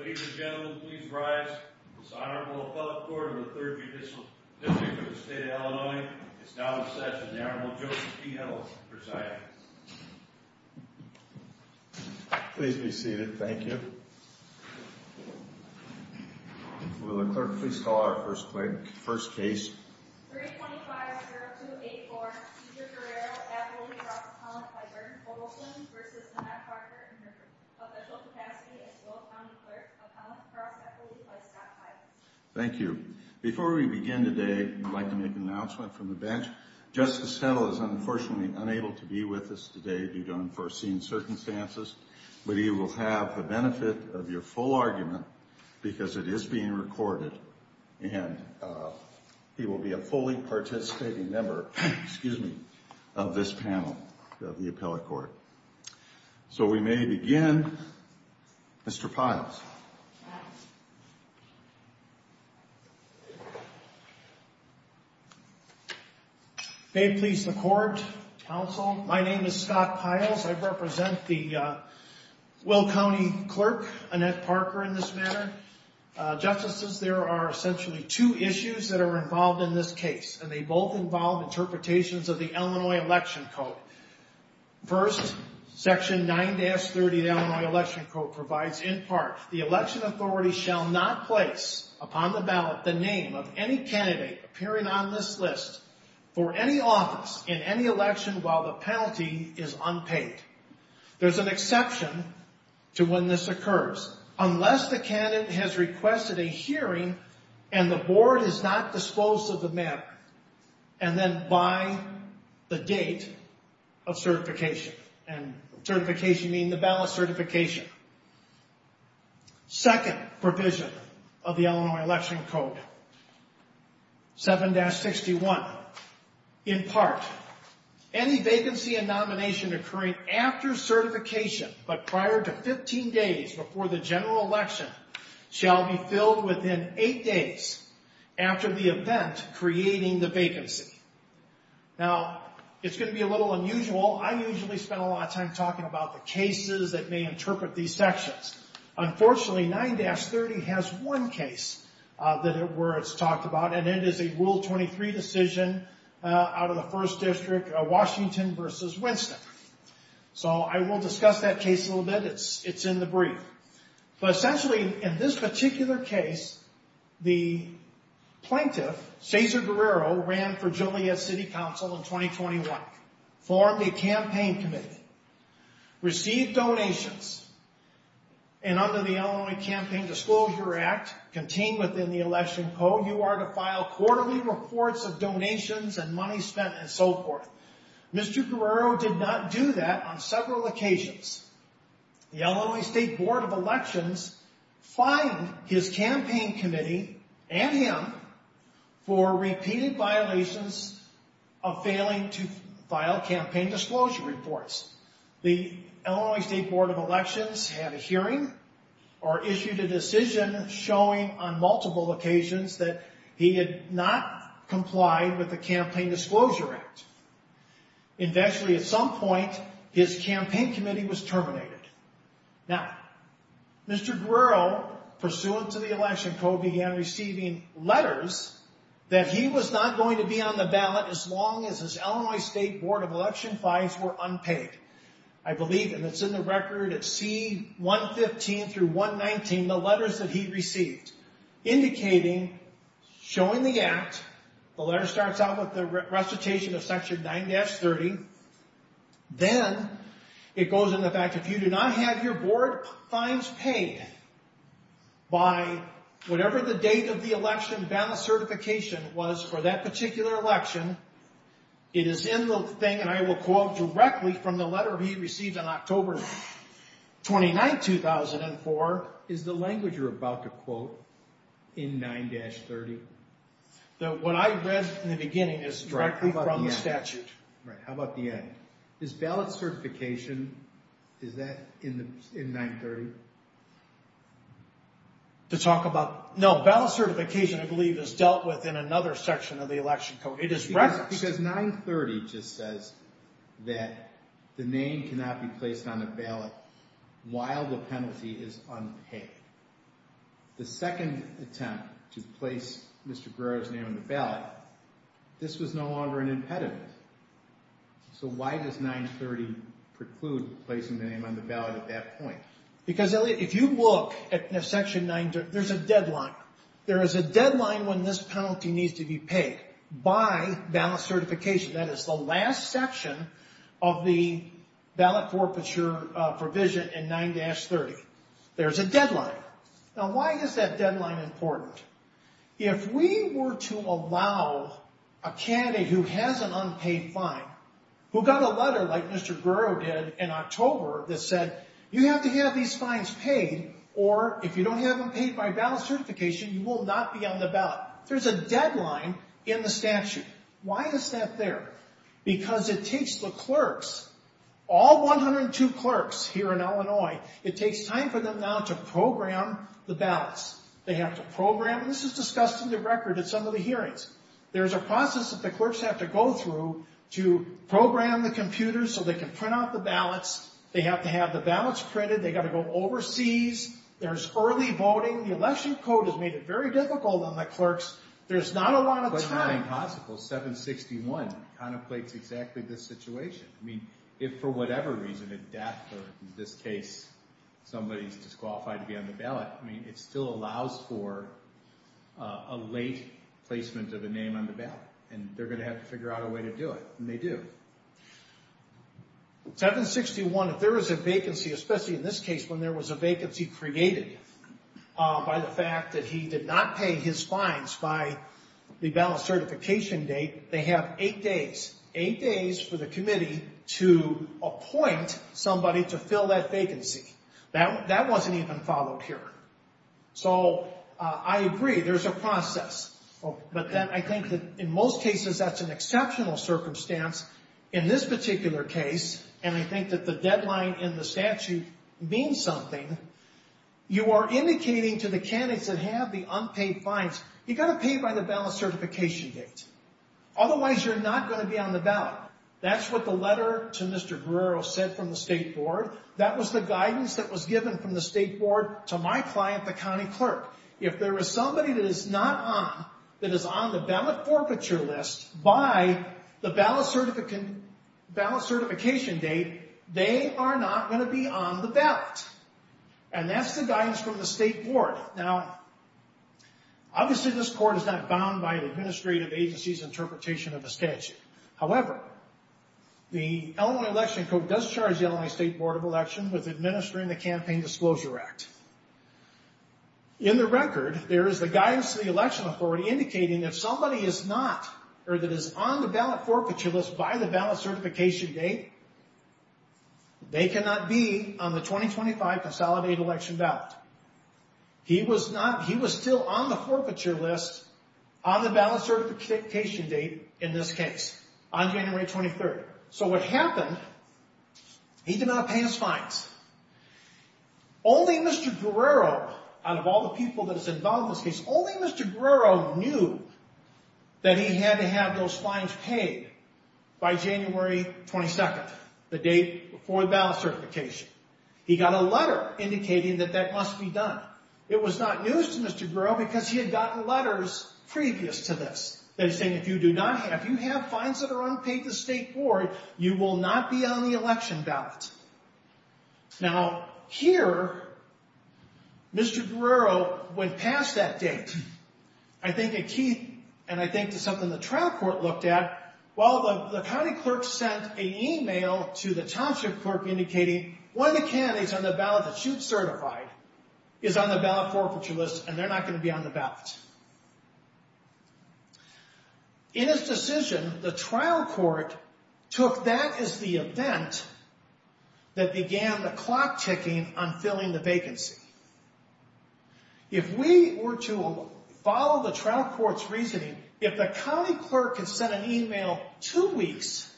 Ladies and gentlemen, please rise. This Honorable Appellate Court of the 3rd Judicial District of the State of Illinois is now in session. The Honorable Joseph P. Heddles presiding. Please be seated. Thank you. Will the clerk please call our first case. Thank you. Before we begin today, I'd like to make an announcement from the bench. Justice Heddles is unfortunately unable to be with us today due to unforeseen circumstances, but he will have the benefit of your full argument because it is being recorded and he will be a fully participating member of this panel of the appellate court. So we may begin. Mr. Piles. May it please the court, counsel, my name is Scott Piles. I represent the Will County Clerk, Annette Parker, in this matter. Justices, there are essentially two issues that are involved in this case, and they both involve interpretations of the Illinois Election Code. First, Section 9-30 of the Illinois Election Code provides, in part, the election authority shall not place upon the ballot the name of any candidate appearing on this list for any office in any election while the penalty is unpaid. There's an exception to when this occurs. Unless the candidate has requested a hearing and the board has not disposed of the matter, and then by the date of certification, and certification being the ballot certification. Second provision of the Illinois Election Code, 7-61, in part, any vacancy and nomination occurring after certification, but prior to 15 days before the general election, shall be filled within 8 days after the event creating the vacancy. Now, it's going to be a little unusual. I usually spend a lot of time talking about the cases that may interpret these sections. Unfortunately, 9-30 has one case where it's talked about, and it is a Rule 23 decision out of the First District, Washington versus Winston. So, I will discuss that case a little bit. It's in the brief. But essentially, in this particular case, the plaintiff, Cesar Guerrero, ran for Joliet City Council in 2021, formed a campaign committee, received donations, and under the Illinois Campaign Disclosure Act contained within the Election Code, you are to file quarterly reports of donations and money spent and so forth. Mr. Guerrero did not do that on several occasions. The Illinois State Board of Elections fined his campaign committee and him for repeated violations of failing to file campaign disclosure reports. The Illinois State Board of Elections had a hearing or issued a decision showing on multiple occasions that he had not complied with the Campaign Disclosure Act. Eventually, at some point, his campaign committee was terminated. Now, Mr. Guerrero, pursuant to the Election Code, began receiving letters that he was not going to be on the ballot as long as his Illinois State Board of Elections fines were unpaid. I believe, and it's in the record at C-115 through 119, the letters that he received indicating, showing the act, the letter starts out with the recitation of Section 9-30. Then, it goes into the fact that if you do not have your board fines paid by whatever the date of the election ballot certification was for that particular election, it is in the thing, and I will quote directly from the letter he received on October 29, 2004, is the language you're about to quote in 9-30. Now, what I read in the beginning is directly from the statute. Right. How about the end? Is ballot certification, is that in 9-30? To talk about? No, ballot certification, I believe, is dealt with in another section of the Election Code. It is referenced. Why? Because 9-30 just says that the name cannot be placed on the ballot while the penalty is unpaid. The second attempt to place Mr. Guerrero's name on the ballot, this was no longer an impediment. So, why does 9-30 preclude placing the name on the ballot at that point? Because, Elliot, if you look at Section 9-30, there's a deadline. There is a deadline when this penalty needs to be paid by ballot certification. That is the last section of the ballot forfeiture provision in 9-30. There's a deadline. Now, why is that deadline important? If we were to allow a candidate who has an unpaid fine, who got a letter like Mr. Guerrero did in October that said, you have to have these fines paid, or if you don't have them paid by ballot certification, you will not be on the ballot. There's a deadline in the statute. Why is that there? Because it takes the clerks, all 102 clerks here in Illinois, it takes time for them now to program the ballots. They have to program. This is discussed in the record at some of the hearings. There's a process that the clerks have to go through to program the computers so they can print out the ballots. They have to have the ballots printed. They've got to go overseas. There's early voting. The election code has made it very difficult on the clerks. There's not a lot of time. But, if anything possible, 761 contemplates exactly this situation. I mean, if for whatever reason, a death or in this case, somebody's disqualified to be on the ballot, I mean, it still allows for a late placement of a name on the ballot. And they're going to have to figure out a way to do it. And they do. 761, if there is a vacancy, especially in this case when there was a vacancy created by the fact that he did not pay his fines by the ballot certification date, they have eight days, eight days for the committee to appoint somebody to fill that vacancy. That wasn't even followed here. So, I agree. There's a process. But then I think that in most cases, that's an exceptional circumstance. In this particular case, and I think that the deadline in the statute means something, you are indicating to the candidates that have the unpaid fines, you've got to pay by the ballot certification date. Otherwise, you're not going to be on the ballot. That's what the letter to Mr. Guerrero said from the State Board. That was the guidance that was given from the State Board to my client, the county clerk. If there is somebody that is not on, that is on the ballot forfeiture list by the ballot certification date, they are not going to be on the ballot. And that's the guidance from the State Board. Now, obviously, this court is not bound by the administrative agency's interpretation of the statute. However, the Illinois Election Code does charge the Illinois State Board of Elections with administering the Campaign Disclosure Act. In the record, there is the guidance of the election authority indicating that if somebody is not or that is on the ballot forfeiture list by the ballot certification date, they cannot be on the 2025 Consolidated Election Ballot. He was still on the forfeiture list on the ballot certification date in this case, on January 23rd. So what happened, he did not pay his fines. Only Mr. Guerrero, out of all the people that is involved in this case, only Mr. Guerrero knew that he had to have those fines paid by January 22nd, the date before the ballot certification. He got a letter indicating that that must be done. It was not news to Mr. Guerrero because he had gotten letters previous to this that are saying if you do not have, if you have fines that are unpaid to the State Board, you will not be on the election ballot. Now, here, Mr. Guerrero went past that date. I think a key, and I think it's something the trial court looked at, well, the county clerk sent an email to the township clerk indicating one of the candidates on the ballot that you've certified is on the ballot forfeiture list and they're not going to be on the ballot. In his decision, the trial court took that as the event that began the clock ticking on filling the vacancy. If we were to follow the trial court's reasoning, if the county clerk had sent an email two weeks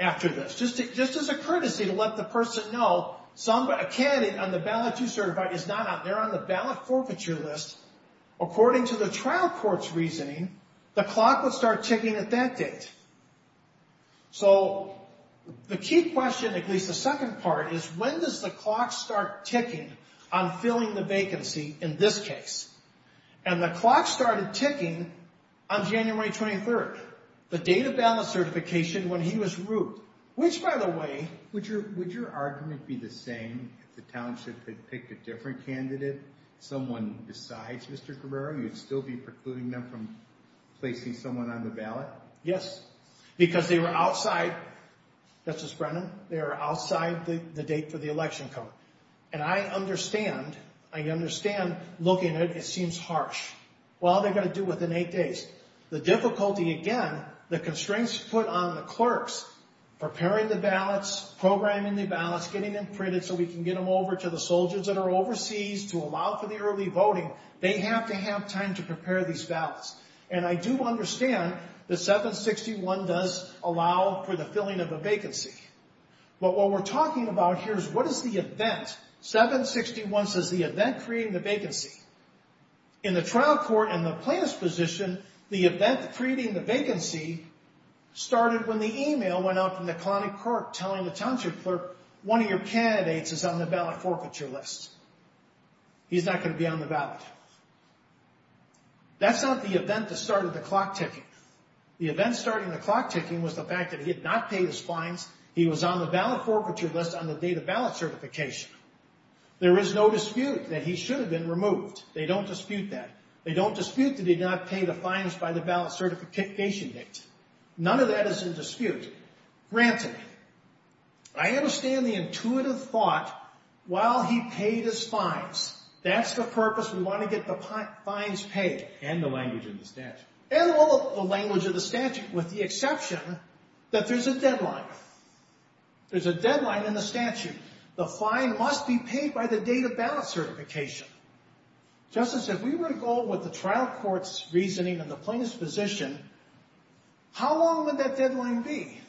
after this, just as a courtesy to let the person know a candidate on the ballot you certified is not on, they're on the ballot forfeiture list, according to the trial court's reasoning, the clock would start ticking at that date. So the key question, at least the second part, is when does the clock start ticking on filling the vacancy in this case? And the clock started ticking on January 23rd, the date of ballot certification when he was rued, which, by the way... Would your argument be the same if the township had picked a different candidate, someone besides Mr. Guerrero? You'd still be precluding them from placing someone on the ballot? Yes, because they were outside, Justice Brennan, they were outside the date for the election code. And I understand, I understand looking at it, it seems harsh. Well, what are they going to do within eight days? The difficulty, again, the constraints put on the clerks, preparing the ballots, programming the ballots, getting them printed so we can get them over to the soldiers that are overseas to allow for the early voting, they have to have time to prepare these ballots. And I do understand that 761 does allow for the filling of a vacancy. But what we're talking about here is what is the event? 761 says the event creating the vacancy. In the trial court, in the plaintiff's position, the event creating the vacancy started when the email went out from the colonic clerk telling the township clerk, one of your candidates is on the ballot forfeiture list. He's not going to be on the ballot. That's not the event that started the clock ticking. The event starting the clock ticking was the fact that he had not paid his fines. He was on the ballot forfeiture list on the date of ballot certification. There is no dispute that he should have been removed. They don't dispute that. They don't dispute that he did not pay the fines by the ballot certification date. None of that is in dispute. Granted, I understand the intuitive thought while he paid his fines. That's the purpose. We want to get the fines paid. And the language in the statute. And all of the language of the statute with the exception that there's a deadline. There's a deadline in the statute. The fine must be paid by the date of ballot certification. Justice, if we were to go with the trial court's reasoning and the plaintiff's position, how long would that deadline be?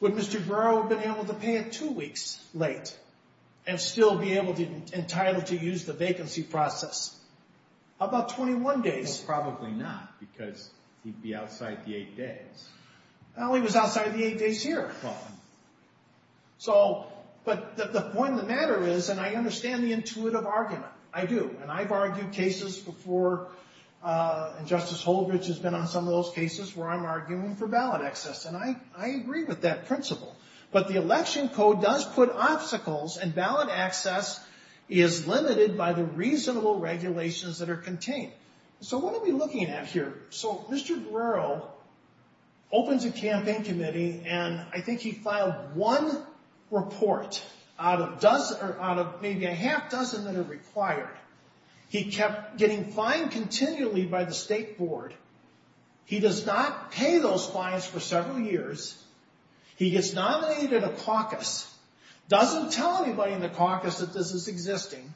Would Mr. Burrow have been able to pay it two weeks late and still be able to be entitled to use the vacancy process? How about 21 days? Probably not because he'd be outside the eight days. Well, he was outside the eight days here. So, but the point of the matter is, and I understand the intuitive argument. I do. And I've argued cases before, and Justice Holdridge has been on some of those cases, where I'm arguing for ballot access. And I agree with that principle. But the election code does put obstacles, and ballot access is limited by the reasonable regulations that are contained. So what are we looking at here? So Mr. Burrow opens a campaign committee, and I think he filed one report out of maybe a half dozen that are required. He kept getting fined continually by the state board. He does not pay those fines for several years. He gets nominated in a caucus. Doesn't tell anybody in the caucus that this is existing.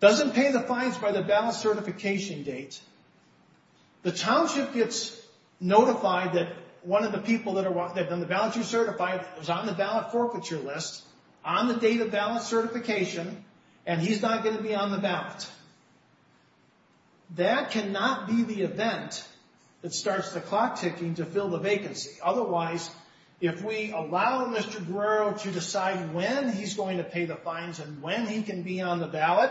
Doesn't pay the fines by the ballot certification date. The township gets notified that one of the people that have done the ballotry certified is on the ballot forfeiture list, on the date of ballot certification, and he's not going to be on the ballot. That cannot be the event that starts the clock ticking to fill the vacancy. Otherwise, if we allow Mr. Burrow to decide when he's going to pay the fines and when he can be on the ballot,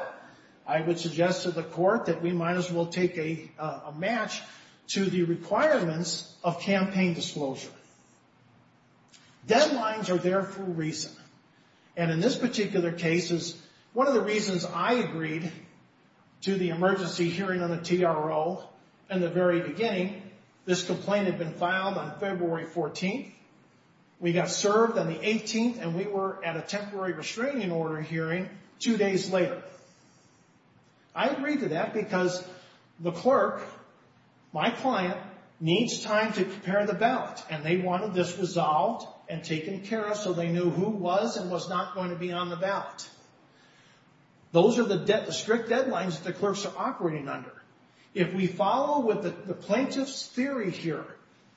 I would suggest to the court that we might as well take a match to the requirements of campaign disclosure. Deadlines are there for a reason, and in this particular case, it's one of the reasons I agreed to the emergency hearing on the TRO in the very beginning. This complaint had been filed on February 14th. We got served on the 18th, and we were at a temporary restraining order hearing two days later. I agreed to that because the clerk, my client, needs time to prepare the ballot, and they wanted this resolved and taken care of so they knew who was and was not going to be on the ballot. Those are the strict deadlines that the clerks are operating under. If we follow with the plaintiff's theory here,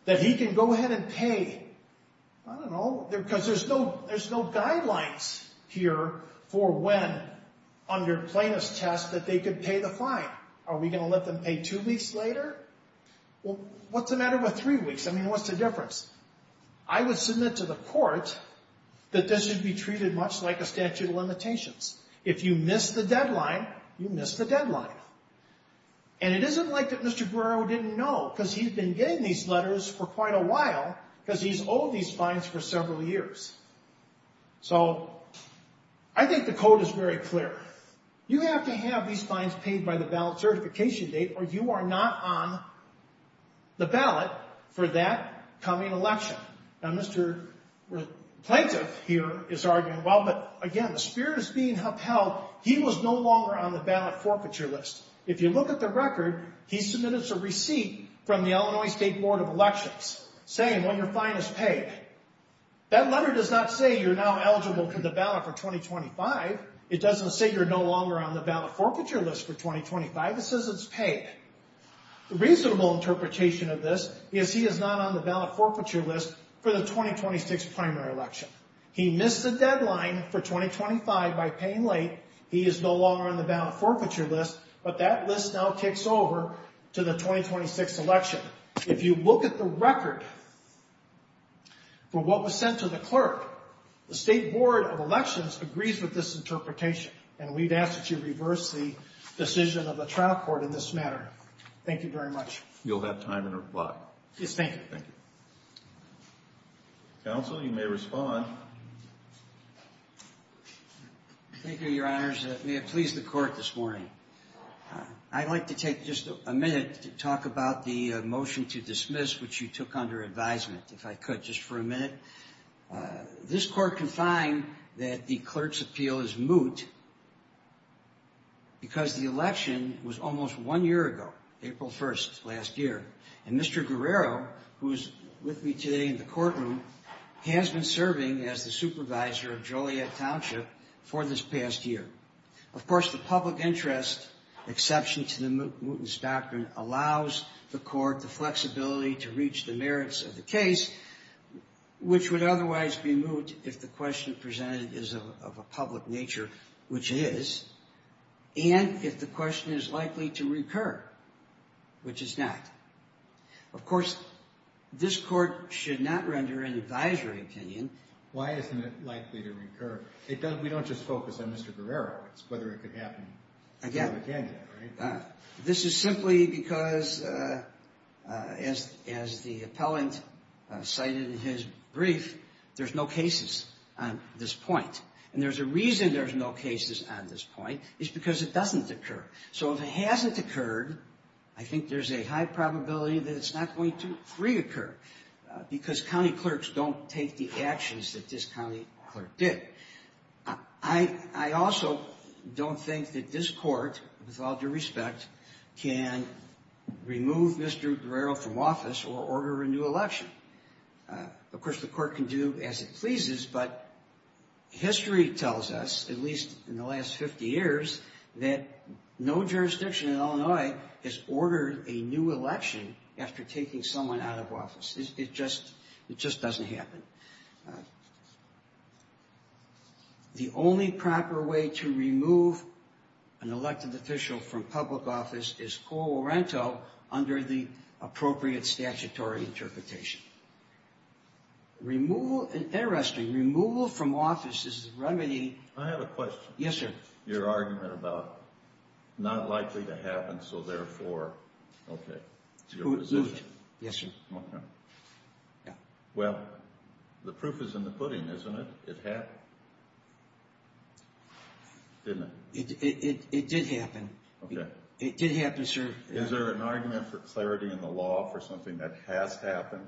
that he can go ahead and pay, I don't know, because there's no guidelines here for when, under plaintiff's test, that they could pay the fine. Are we going to let them pay two weeks later? Well, what's the matter with three weeks? I mean, what's the difference? I would submit to the court that this should be treated much like a statute of limitations. If you miss the deadline, you miss the deadline. And it isn't like that Mr. Burrow didn't know, because he's been getting these letters for quite a while because he's owed these fines for several years. So, I think the code is very clear. You have to have these fines paid by the ballot certification date or you are not on the ballot for that coming election. Now, Mr. Plaintiff here is arguing, well, but again, the spirit is being upheld. He was no longer on the ballot forfeiture list. If you look at the record, he submitted us a receipt from the Illinois State Board of Elections saying, well, your fine is paid. That letter does not say you're now eligible for the ballot for 2025. It doesn't say you're no longer on the ballot forfeiture list for 2025. It says it's paid. The reasonable interpretation of this is he is not on the ballot forfeiture list for the 2026 primary election. He missed the deadline for 2025 by paying late. He is no longer on the ballot forfeiture list, but that list now kicks over to the 2026 election. If you look at the record for what was sent to the clerk, the State Board of Elections agrees with this interpretation, and we'd ask that you reverse the decision of the trial court in this matter. Thank you very much. You'll have time to reply. Yes, thank you. Thank you. Counsel, you may respond. Thank you, Your Honors. May it please the court this morning. I'd like to take just a minute to talk about the motion to dismiss, which you took under advisement, if I could just for a minute. This court can find that the clerk's appeal is moot because the election was almost one year ago, April 1st last year, and Mr. Guerrero, who is with me today in the courtroom, has been serving as the supervisor of Joliet Township for this past year. Of course, the public interest exception to the mootness doctrine allows the court the flexibility to reach the merits of the case, which would otherwise be moot if the question presented is of a public nature, which it is, and if the question is likely to recur, which it's not. Of course, this court should not render an advisory opinion. Why isn't it likely to recur? We don't just focus on Mr. Guerrero. It's whether it could happen again. This is simply because, as the appellant cited in his brief, there's no cases on this point, and there's a reason there's no cases on this point. It's because it doesn't occur. So if it hasn't occurred, I think there's a high probability that it's not going to reoccur because county clerks don't take the actions that this county clerk did. I also don't think that this court, with all due respect, can remove Mr. Guerrero from office or order a new election. Of course, the court can do as it pleases, but history tells us, at least in the last 50 years, that no jurisdiction in Illinois has ordered a new election after taking someone out of office. It just doesn't happen. The only proper way to remove an elected official from public office is co-oriento under the appropriate statutory interpretation. Interesting, removal from office is the remedy. I have a question. Yes, sir. Your argument about not likely to happen, so therefore, okay, it's your position. Yes, sir. Okay. Well, the proof is in the pudding, isn't it? It happened, didn't it? It did happen. Okay. It did happen, sir. Is there an argument for clarity in the law for something that has happened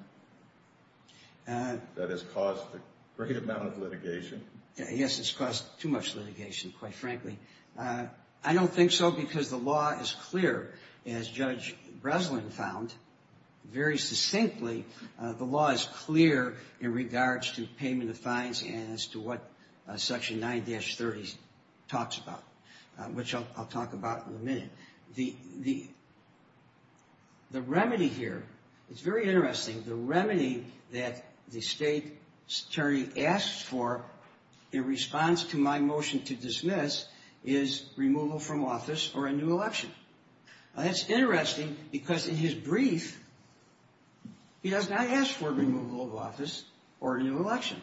that has caused a great amount of litigation? Yes, it's caused too much litigation, quite frankly. I don't think so because the law is clear. As Judge Breslin found, very succinctly, the law is clear in regards to payment of fines and as to what Section 9-30 talks about, which I'll talk about in a minute. The remedy here, it's very interesting, the remedy that the state attorney asked for in response to my motion to dismiss is removal from office or a new election. That's interesting because in his brief, he has not asked for removal of office or a new election.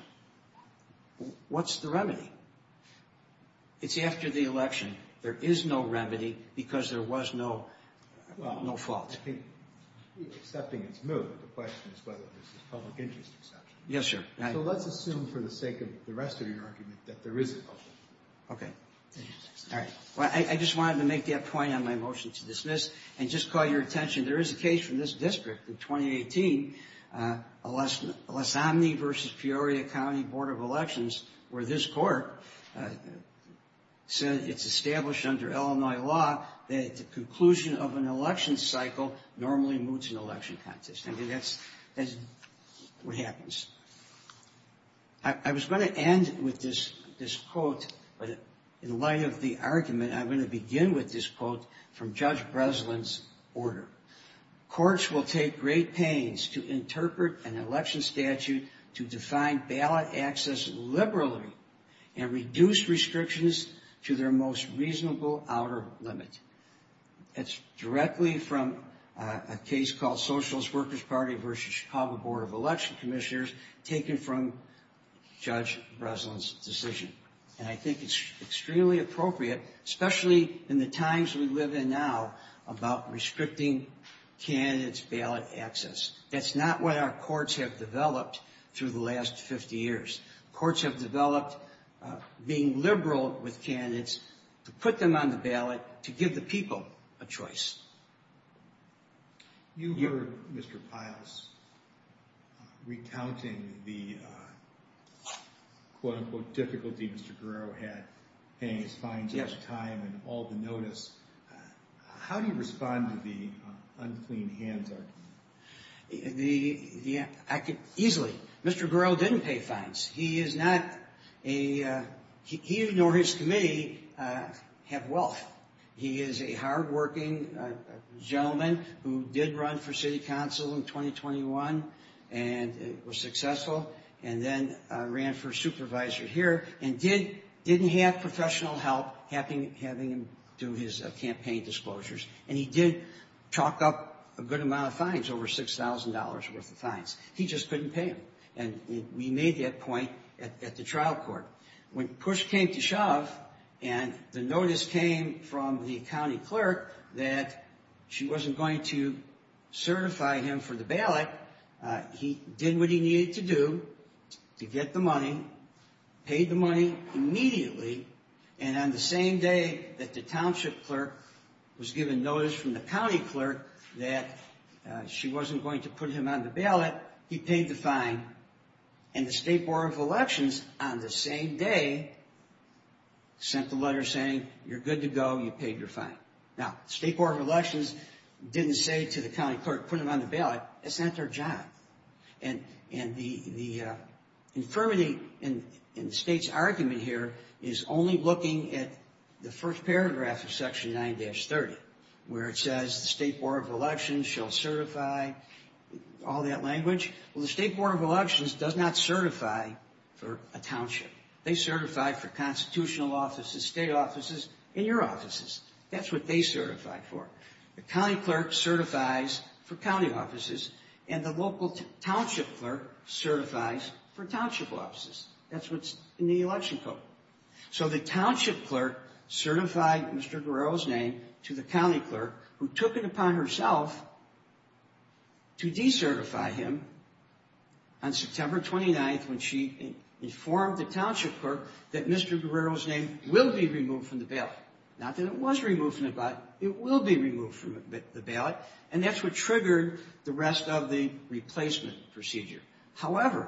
What's the remedy? It's after the election. There is no remedy because there was no fault. Well, I think accepting its move, the question is whether this is a public interest exception. Yes, sir. So let's assume for the sake of the rest of your argument that there is a public interest exception. Okay. All right. I just wanted to make that point on my motion to dismiss and just call your attention, there is a case from this district in 2018, Lasomne v. Peoria County Board of Elections, where this court said it's established under Illinois law that the conclusion of an election cycle normally moves an election contest. I mean, that's what happens. I was going to end with this quote, but in light of the argument, I'm going to begin with this quote from Judge Breslin's order. Courts will take great pains to interpret an election statute to define ballot access liberally and reduce restrictions to their most reasonable outer limit. It's directly from a case called Socialist Workers' Party v. Chicago Board of Election Commissioners taken from Judge Breslin's decision. And I think it's extremely appropriate, especially in the times we live in now, about restricting candidates' ballot access. That's not what our courts have developed through the last 50 years. Courts have developed being liberal with candidates to put them on the ballot to give the people a choice. You heard Mr. Piles recounting the quote-unquote difficulty Mr. Guerrero had paying his fines in his time and all the notice. How do you respond to the unclean hands argument? I could easily. Mr. Guerrero didn't pay fines. He is not a... He nor his committee have wealth. He is a hardworking gentleman who did run for city council in 2021 and was successful, and then ran for supervisor here and didn't have professional help having him do his campaign disclosures. And he did chalk up a good amount of fines, over $6,000 worth of fines. He just couldn't pay them. And we made that point at the trial court. When push came to shove and the notice came from the county clerk that she wasn't going to certify him for the ballot, he did what he needed to do to get the money, paid the money immediately, and on the same day that the township clerk was given notice from the county clerk that she wasn't going to put him on the ballot, he paid the fine. And the State Board of Elections, on the same day, sent the letter saying, you're good to go, you paid your fine. Now, the State Board of Elections didn't say to the county clerk, put him on the ballot. It's not their job. And the infirmity in the state's argument here is only looking at the first paragraph of Section 9-30, where it says the State Board of Elections shall certify all that language. Well, the State Board of Elections does not certify for a township. They certify for constitutional offices, state offices, and your offices. That's what they certify for. The county clerk certifies for county offices, and the local township clerk certifies for township offices. That's what's in the election code. So the township clerk certified Mr. Guerrero's name to the county clerk, who took it upon herself to decertify him on September 29th when she informed the township clerk that Mr. Guerrero's name will be removed from the ballot. Not that it was removed from the ballot. It will be removed from the ballot. And that's what triggered the rest of the replacement procedure. However,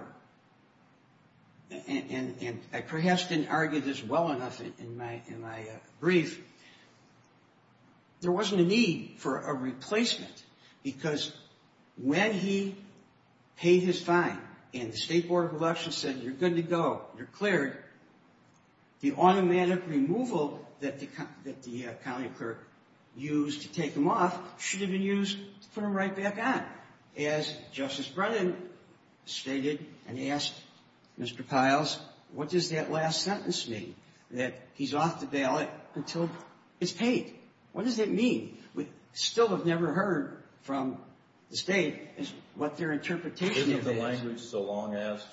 and I perhaps didn't argue this well enough in my brief, there wasn't a need for a replacement because when he paid his fine and the State Board of Elections said you're good to go, you're cleared, the automatic removal that the county clerk used to take him off should have been used to put him right back on. As Justice Brennan stated and asked Mr. Kiles, what does that last sentence mean? That he's off the ballot until it's paid. What does that mean? We still have never heard from the state what their interpretation is. Isn't the language so long as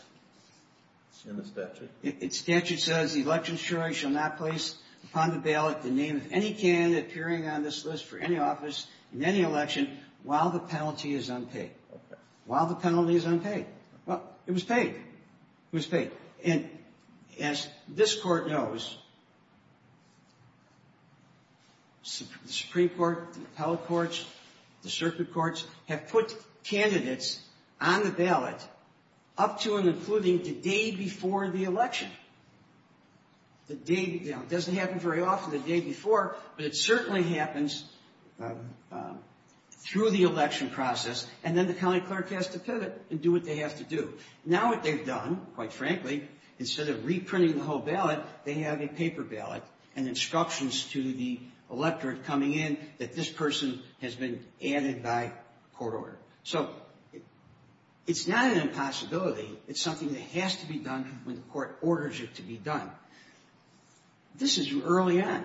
in the statute? The statute says the election jury shall not place upon the ballot the name of any candidate appearing on this list for any office in any election while the penalty is unpaid. While the penalty is unpaid. Well, it was paid. It was paid. And as this court knows, the Supreme Court, the appellate courts, the circuit courts have put candidates on the ballot up to and including the day before the election. It doesn't happen very often the day before, but it certainly happens through the election process and then the county clerk has to pivot and do what they have to do. Now what they've done, quite frankly, instead of reprinting the whole ballot, they have a paper ballot and instructions to the electorate coming in that this person has been added by court order. So, it's not an impossibility. It's something that has to be done when the court orders it to be done. This is early on.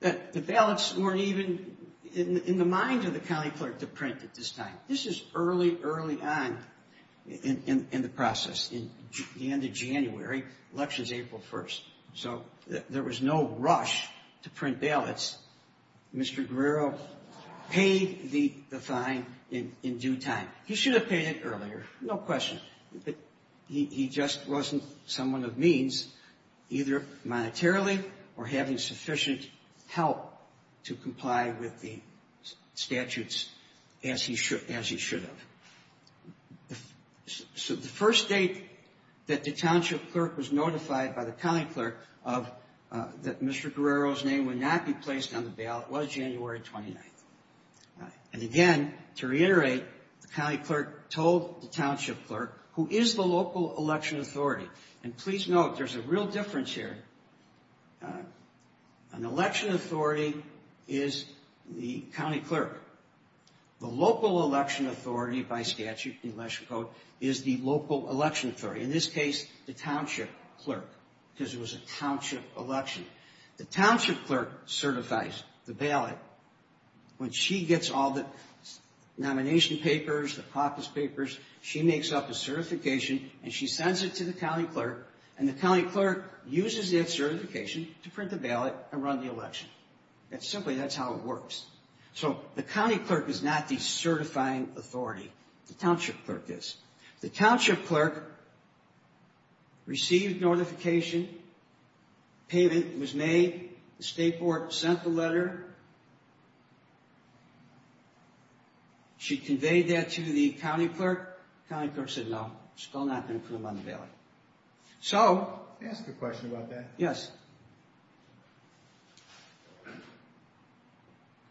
The ballots weren't even in the mind of the county clerk to print at this time. This is early, early on in the process. The end of January, election's April 1st, so there was no rush to print ballots. Mr. Guerrero paid the fine in due time. He should have paid it earlier, no question. He just wasn't someone of means either monetarily or having sufficient help to comply with the as he should have. So, the first date that the township clerk was notified by the county clerk that Mr. Guerrero's name would not be placed on the ballot was January 29th. And again, to reiterate, the county clerk told the township clerk, who is the local election authority, and please note, there's a real difference here. An election authority is the county clerk. The local election authority by statute, the election code, is the local election authority. In this case, the township clerk because it was a township election. The township clerk certifies the ballot when she gets all the nomination papers, the caucus papers, she makes up a certification and she sends it to the county clerk and the county clerk uses that certification to print the ballot and run the election. That's simply, that's how it works. So, the county clerk is not the certifying authority. The township clerk is. The township clerk received notification, payment was made, the state board sent the letter, she conveyed that to the county clerk, the county clerk said no, still not going to put them on the ballot. So, I'll ask a question about that.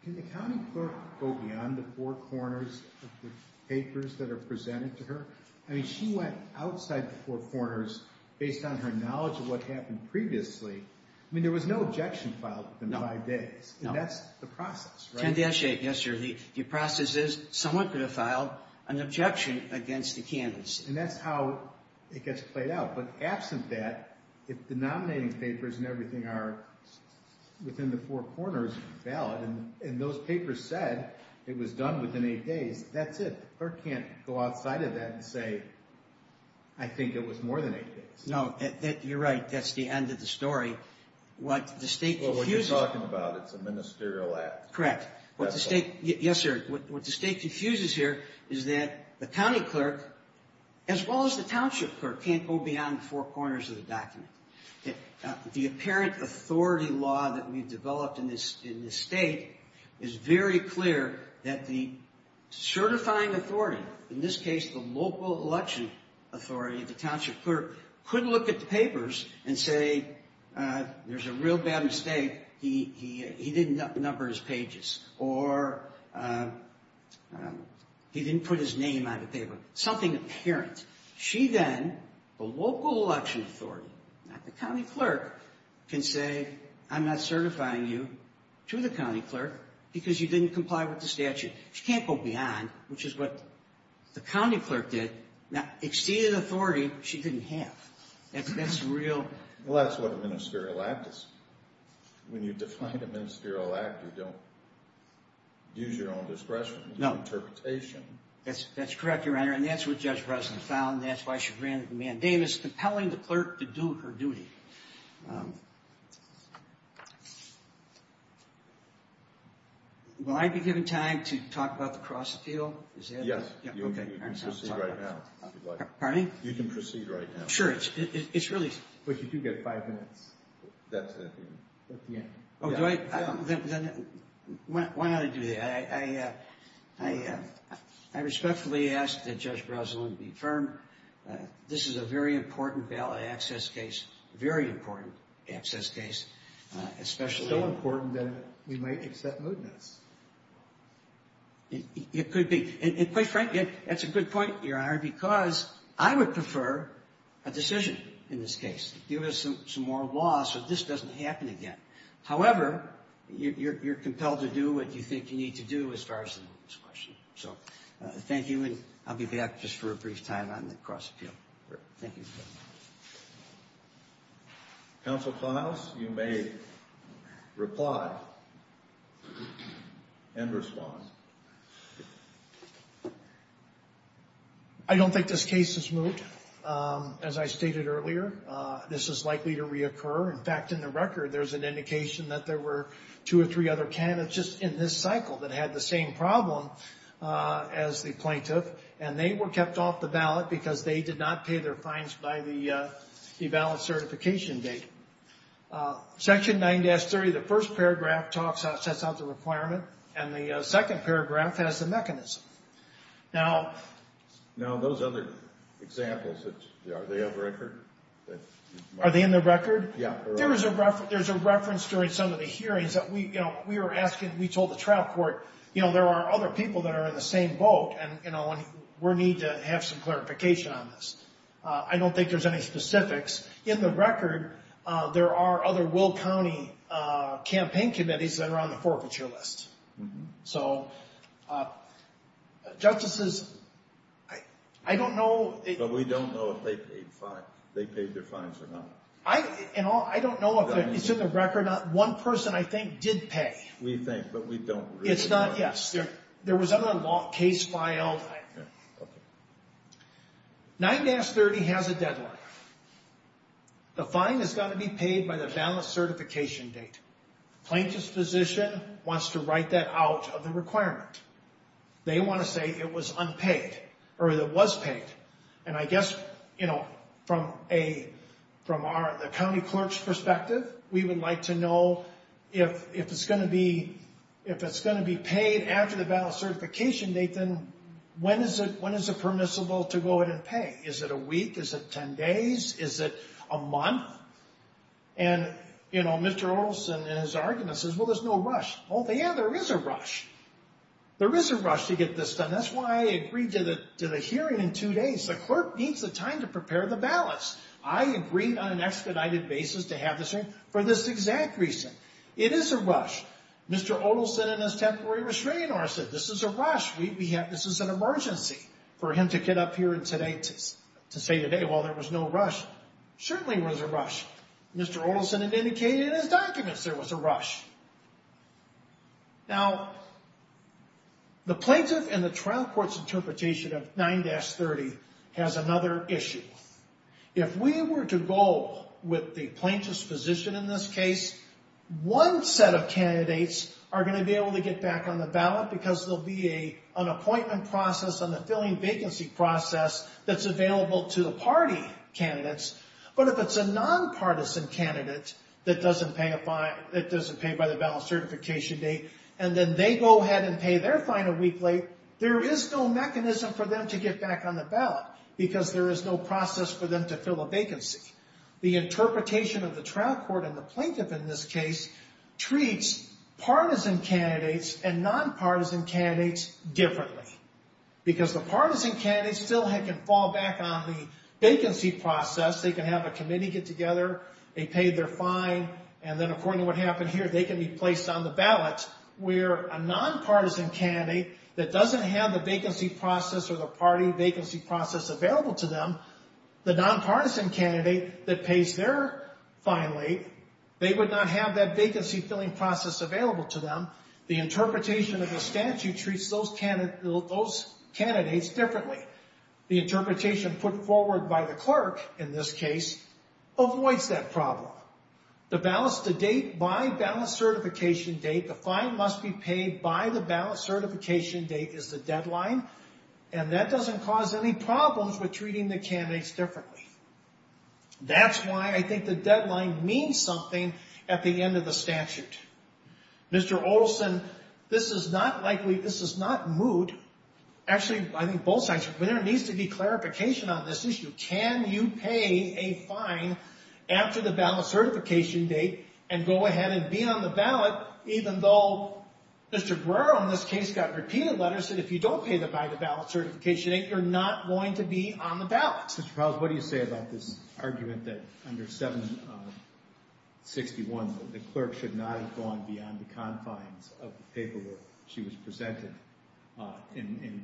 Can the county clerk go beyond the four corners of the papers that are presented to her? I mean, she went outside the four corners based on her knowledge of what happened previously. I mean, there was no objection filed within five days. And that's the process, right? The process is, someone could have filed an objection against the candidacy. And that's how it gets played out. But absent that, if the nominating papers and everything are within the four corners of the ballot, and those papers said it was done within eight days, that's it. The clerk can't go outside of that and say, I think it was more than eight days. No, you're right, that's the end of the story. What the state confuses... Well, what you're talking about, it's a ministerial act. Correct. Yes, sir. What the state confuses here is that the county clerk, as well as the township clerk, can't go beyond the four corners of the document. The apparent authority law that we've developed in this state is very clear that the certifying authority, in this case the local election authority, the township clerk, could look at the papers and say, there's a real bad mistake. He didn't number his pages. Or he didn't put his name on the paper. Something apparent. She then, the local election authority, not the county clerk, can say, I'm not certifying you to the county clerk because you didn't comply with the statute. She can't go beyond, which is what the county clerk did, exceeded authority she didn't have. That's real... Well, that's what a ministerial act is. When you define a ministerial act, you don't use your own discretion. No. That's correct, Your Honor. And that's what Judge Breslin found. That's why she granted the mandamus, compelling the clerk to do her duty. Will I be given time to talk about the Cross Appeal? Yes. You can proceed right now. Pardon me? You can proceed right now. Sure. It's really... But you do get five minutes. That's it. Oh, do I? Why not I do that? I respectfully ask that Judge Breslin be firm. This is a very important ballot access case. Very important access case. So important that we might accept mootness. It could be. And quite frankly, that's a good point, Your Honor, because I would prefer a decision in this law so this doesn't happen again. However, you're compelled to do what you think you need to do as far as this question. Thank you, and I'll be back just for a brief time on the Cross Appeal. Thank you. Counsel Klaus, you may reply and respond. I don't think this case is moot. As I stated earlier, this is likely to reoccur. In fact, in the record, there's an indication that there were two or three other candidates just in this cycle that had the same problem as the plaintiff, and they were kept off the ballot because they did not pay their fines by the ballot certification date. Section 9-30, the first paragraph sets out the requirement, and the second paragraph has the mechanism. those other examples, are they in the record? Are they in the record? There's a reference during some of the hearings that we told the trial court, you know, there are other people that are in the same boat, and we need to have some clarification on this. I don't think there's any specifics. In the record, there are other Will County campaign committees that are on the forfeiture list. So, justices, I don't know... But we don't know if they paid their fines or not. I don't know if it's in the record. One person, I think, did pay. We think, but we don't really know. It's not, yes. There was another case filed. 9-30 has a deadline. The fine has got to be paid by the ballot certification date. The plaintiff's physician wants to write that out of the requirement. They want to say it was unpaid, or that it was paid. And I guess, you know, from a county clerk's perspective, we would like to know if it's going to be paid after the ballot certification date, then when is it permissible to go ahead and pay? Is it a week? Is it 10 days? Is it a month? And, you know, Mr. Orelson in his argument says, well, there's no rush. Well, yeah, there is a rush. There is a rush to get this done. That's why I agreed to the hearing in two days. The clerk needs the time to prepare the ballots. I agreed on an expedited basis to have this for this exact reason. It is a rush. Mr. Orelson in his temporary restraining order said, this is a rush. This is an emergency for him to get up here to say today, well, there was no rush. Certainly was a rush. Mr. Orelson had indicated in his Now, the plaintiff and the trial court's interpretation of 9-30 has another issue. If we were to go with the plaintiff's position in this case, one set of candidates are going to be able to get back on the ballot because there will be an appointment process and a filling vacancy process that's available to the party candidates. But if it's a nonpartisan candidate that doesn't pay by the ballot certification date and then they go ahead and pay their final week late, there is no mechanism for them to get back on the ballot because there is no process for them to fill a vacancy. The interpretation of the trial court and the plaintiff in this case treats partisan candidates and nonpartisan candidates differently because the partisan candidates still can fall back on the vacancy process. They can have a committee get together. They pay their fine and then according to what happened here they can be placed on the ballot where a nonpartisan candidate that doesn't have the vacancy process or the party vacancy process available to them, the nonpartisan candidate that pays their final date, they would not have that vacancy filling process available to them. The interpretation of the statute treats those candidates differently. The interpretation put forward by the clerk in this case avoids that problem. The date by ballot certification date, the fine must be paid by the ballot certification date is the deadline and that doesn't cause any problems with treating the candidates differently. That's why I think the deadline means something at the end of the statute. Mr. Olson, this is not likely, this is not moot. Actually, I think both sides, there needs to be clarification on this issue. Can you pay a fine after the ballot certification date and go ahead and be on the ballot even though Mr. Brewer on this case got repeated letters that if you don't pay them by the ballot certification date, you're not going to be on the ballot. Mr. Powell, what do you say about this argument that under 761 the clerk should not have gone beyond the confines of the paperwork she was presented and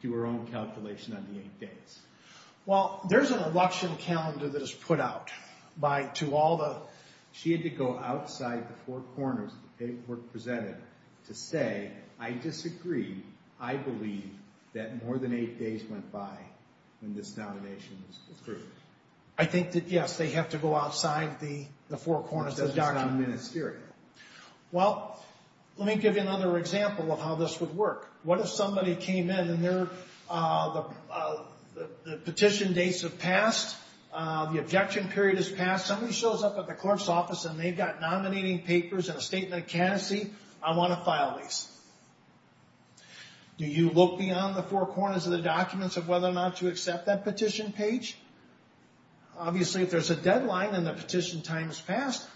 do her own calculation on the eight days? Well, there's an election calendar that is put out by, to all the, she had to go outside the four corners of the paperwork presented to say, I disagree. I believe that more than eight days went by when this nomination was approved. I think that yes, they have to go outside the four corners of the document. That's just not ministerial. Well, let me give you another example of how this would work. What if somebody came in and their the petition dates have passed, the objection period has passed, somebody shows up at the clerk's office and they've got nominating papers and a statement of candidacy, I want to file these. Do you look beyond the four corners of the documents of whether or not to accept that petition page? Obviously, if there's a deadline and the petition time has passed,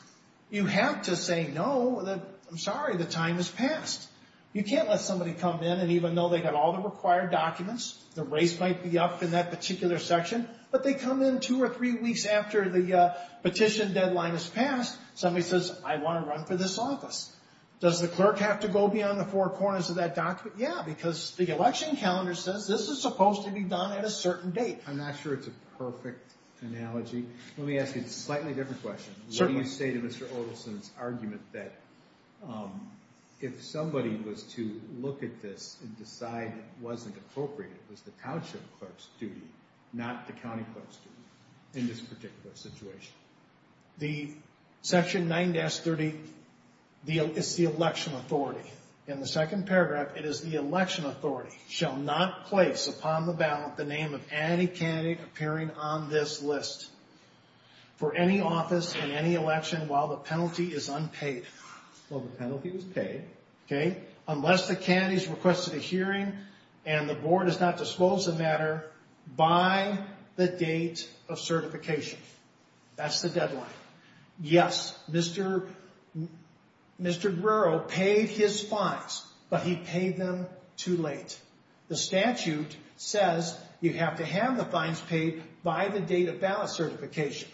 you have to say, no, I'm sorry, the time has passed. You can't let somebody come in and even though they've got all the required documents, the race might be up in that particular section, but they come in two or three weeks after the petition deadline has passed, somebody says, I want to run for this office. Does the clerk have to go beyond the four corners of that document? Yeah, because the election calendar says this is supposed to be done at a certain date. I'm not sure it's a perfect analogy. Let me ask you a slightly different question. Certainly. What do you say to Mr. Odelson's argument that if somebody was to look at this and decide it wasn't appropriate, it was the township clerk's duty, not the county clerk's duty in this particular situation? The section 9-30 is the election authority. In the second paragraph, it is the election authority shall not place upon the ballot the name of any candidate appearing on this list for any office in any election while the penalty is unpaid. While the penalty is paid, unless the candidate has requested a hearing and the board has not disclosed the matter by the date of certification. That's the deadline. Yes, Mr. Mr. Guerrero paid his fines, but he paid them too late. The statute says you have to have the fines paid by the date of ballot certification.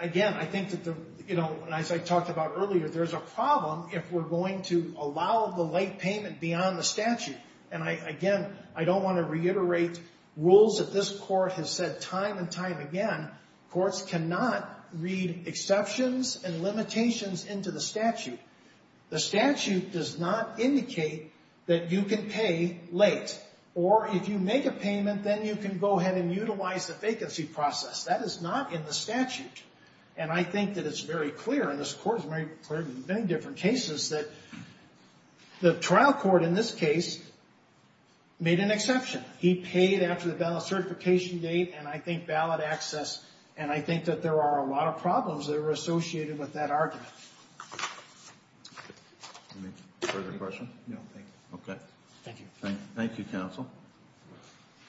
Again, as I talked about earlier, there's a problem if we're going to allow the late payment beyond the statute. Again, I don't want to reiterate rules that this court has said time and time again. Courts cannot read exceptions and limitations into the statute. The statute does not indicate that you can pay late, or if you make a payment, then you can go ahead and utilize the vacancy process. That is not in the statute, and I think that it's very clear, and this court has made clear in many different cases that the trial court in this case made an exception. He paid after the ballot certification date, and I think ballot access, and I think that there are a lot of problems that are associated with that argument. Any further questions? No, thank you. Okay. Thank you. Thank you, counsel.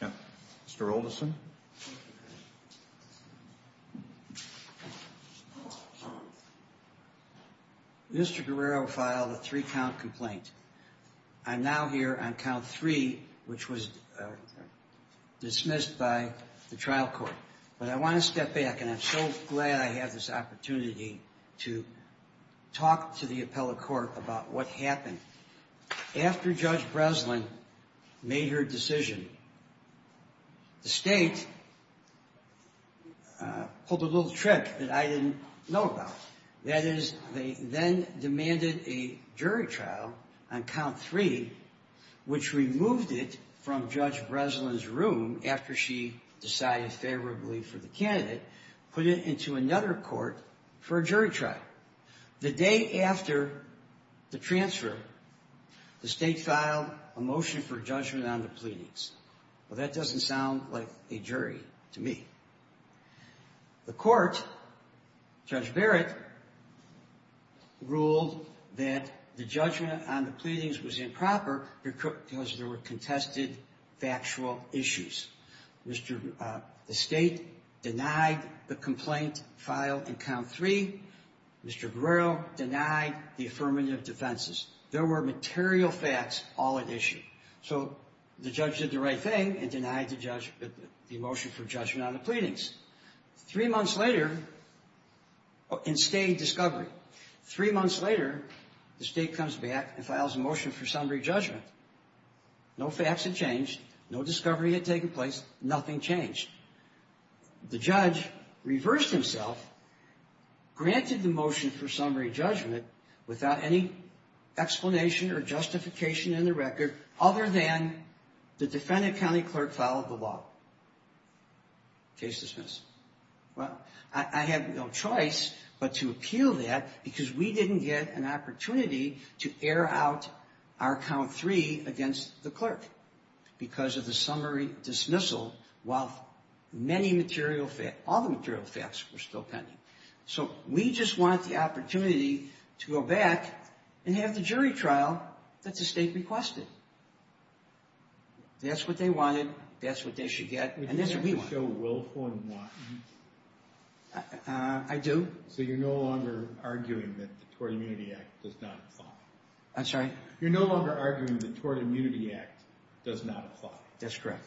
Mr. Oldison? Mr. Guerrero filed a three-count complaint. I'm now here on count three, which was dismissed by the trial court, but I want to step back, and I'm so glad I have this opportunity to talk to the appellate court about what happened after Judge Breslin made her decision. The state pulled a little trick that I didn't know about. That is, they then demanded a jury trial on count three, which removed it from Judge Breslin's room after she decided favorably for the candidate, put it into another court for a jury trial. The day after the transfer, the state filed a motion for judgment on the pleadings. Well, that doesn't sound like a jury to me. The court, Judge Barrett, ruled that the judgment on the pleadings was improper because there were contested factual issues. The state denied the complaint filed in count three. Mr. Guerrero denied the affirmative defenses. There were material facts all at issue. So, the judge did the right thing and denied the motion for judgment on the pleadings. Three months later, in state discovery, three months later, the state comes back and files a motion for summary judgment. No facts had changed, no discovery had taken place, nothing changed. The judge reversed himself, granted the motion for summary judgment without any explanation or justification in the record other than the defendant county clerk followed the law. Case dismissed. Well, I have no choice but to appeal that because we didn't get an opportunity to air out our count three against the clerk because of the summary dismissal while many material facts, all the material facts were still pending. So, we just want the opportunity to go back and have the jury trial that the state requested. That's what they wanted, that's what they should get, and that's what we want. I do. So, you're no longer arguing that the Tort Immunity Act does not apply. I'm sorry? You're no longer arguing that the Tort Immunity Act does not apply. That's correct.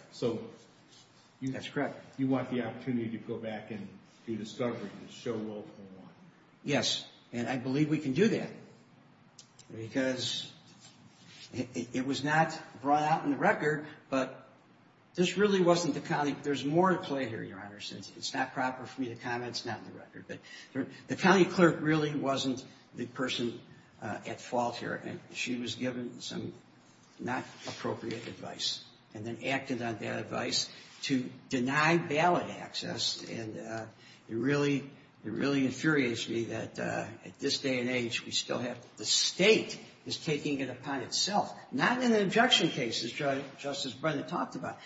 That's correct. You want the opportunity to go back and do discovery and show World War I. Yes, and I believe we can do that because it was not brought out in the record but this really wasn't the county, there's more at play here, Your Honor, since it's not proper for me to comment, it's not in the record, but the county clerk really wasn't the person at fault here. She was given some not appropriate advice and then acted on that advice to deny ballot access and it really infuriates me that at this day and age we still have, the state is taking it upon itself, not in the objection cases Justice Brennan talked about,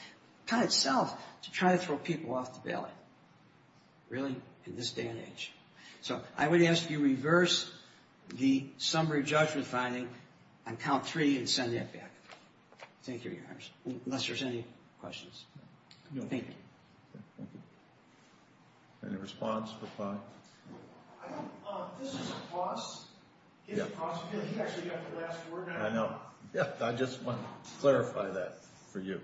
upon itself to try to throw people off the ballot. Really? In this day and age. So, I would ask you reverse the summary judgment finding on count three and send that back. Thank you, Your Honor. Unless there's any questions. Thank you. Any response? This is a cross. It's a cross because you actually got the last word on it. I know. I just want to clarify that for you.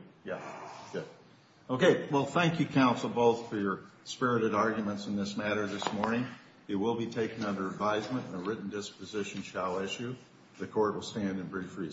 Okay, well thank you counsel both for your spirited arguments in this matter this morning. It will be taken under advisement and a written disposition shall issue. The court will stand in brief recess.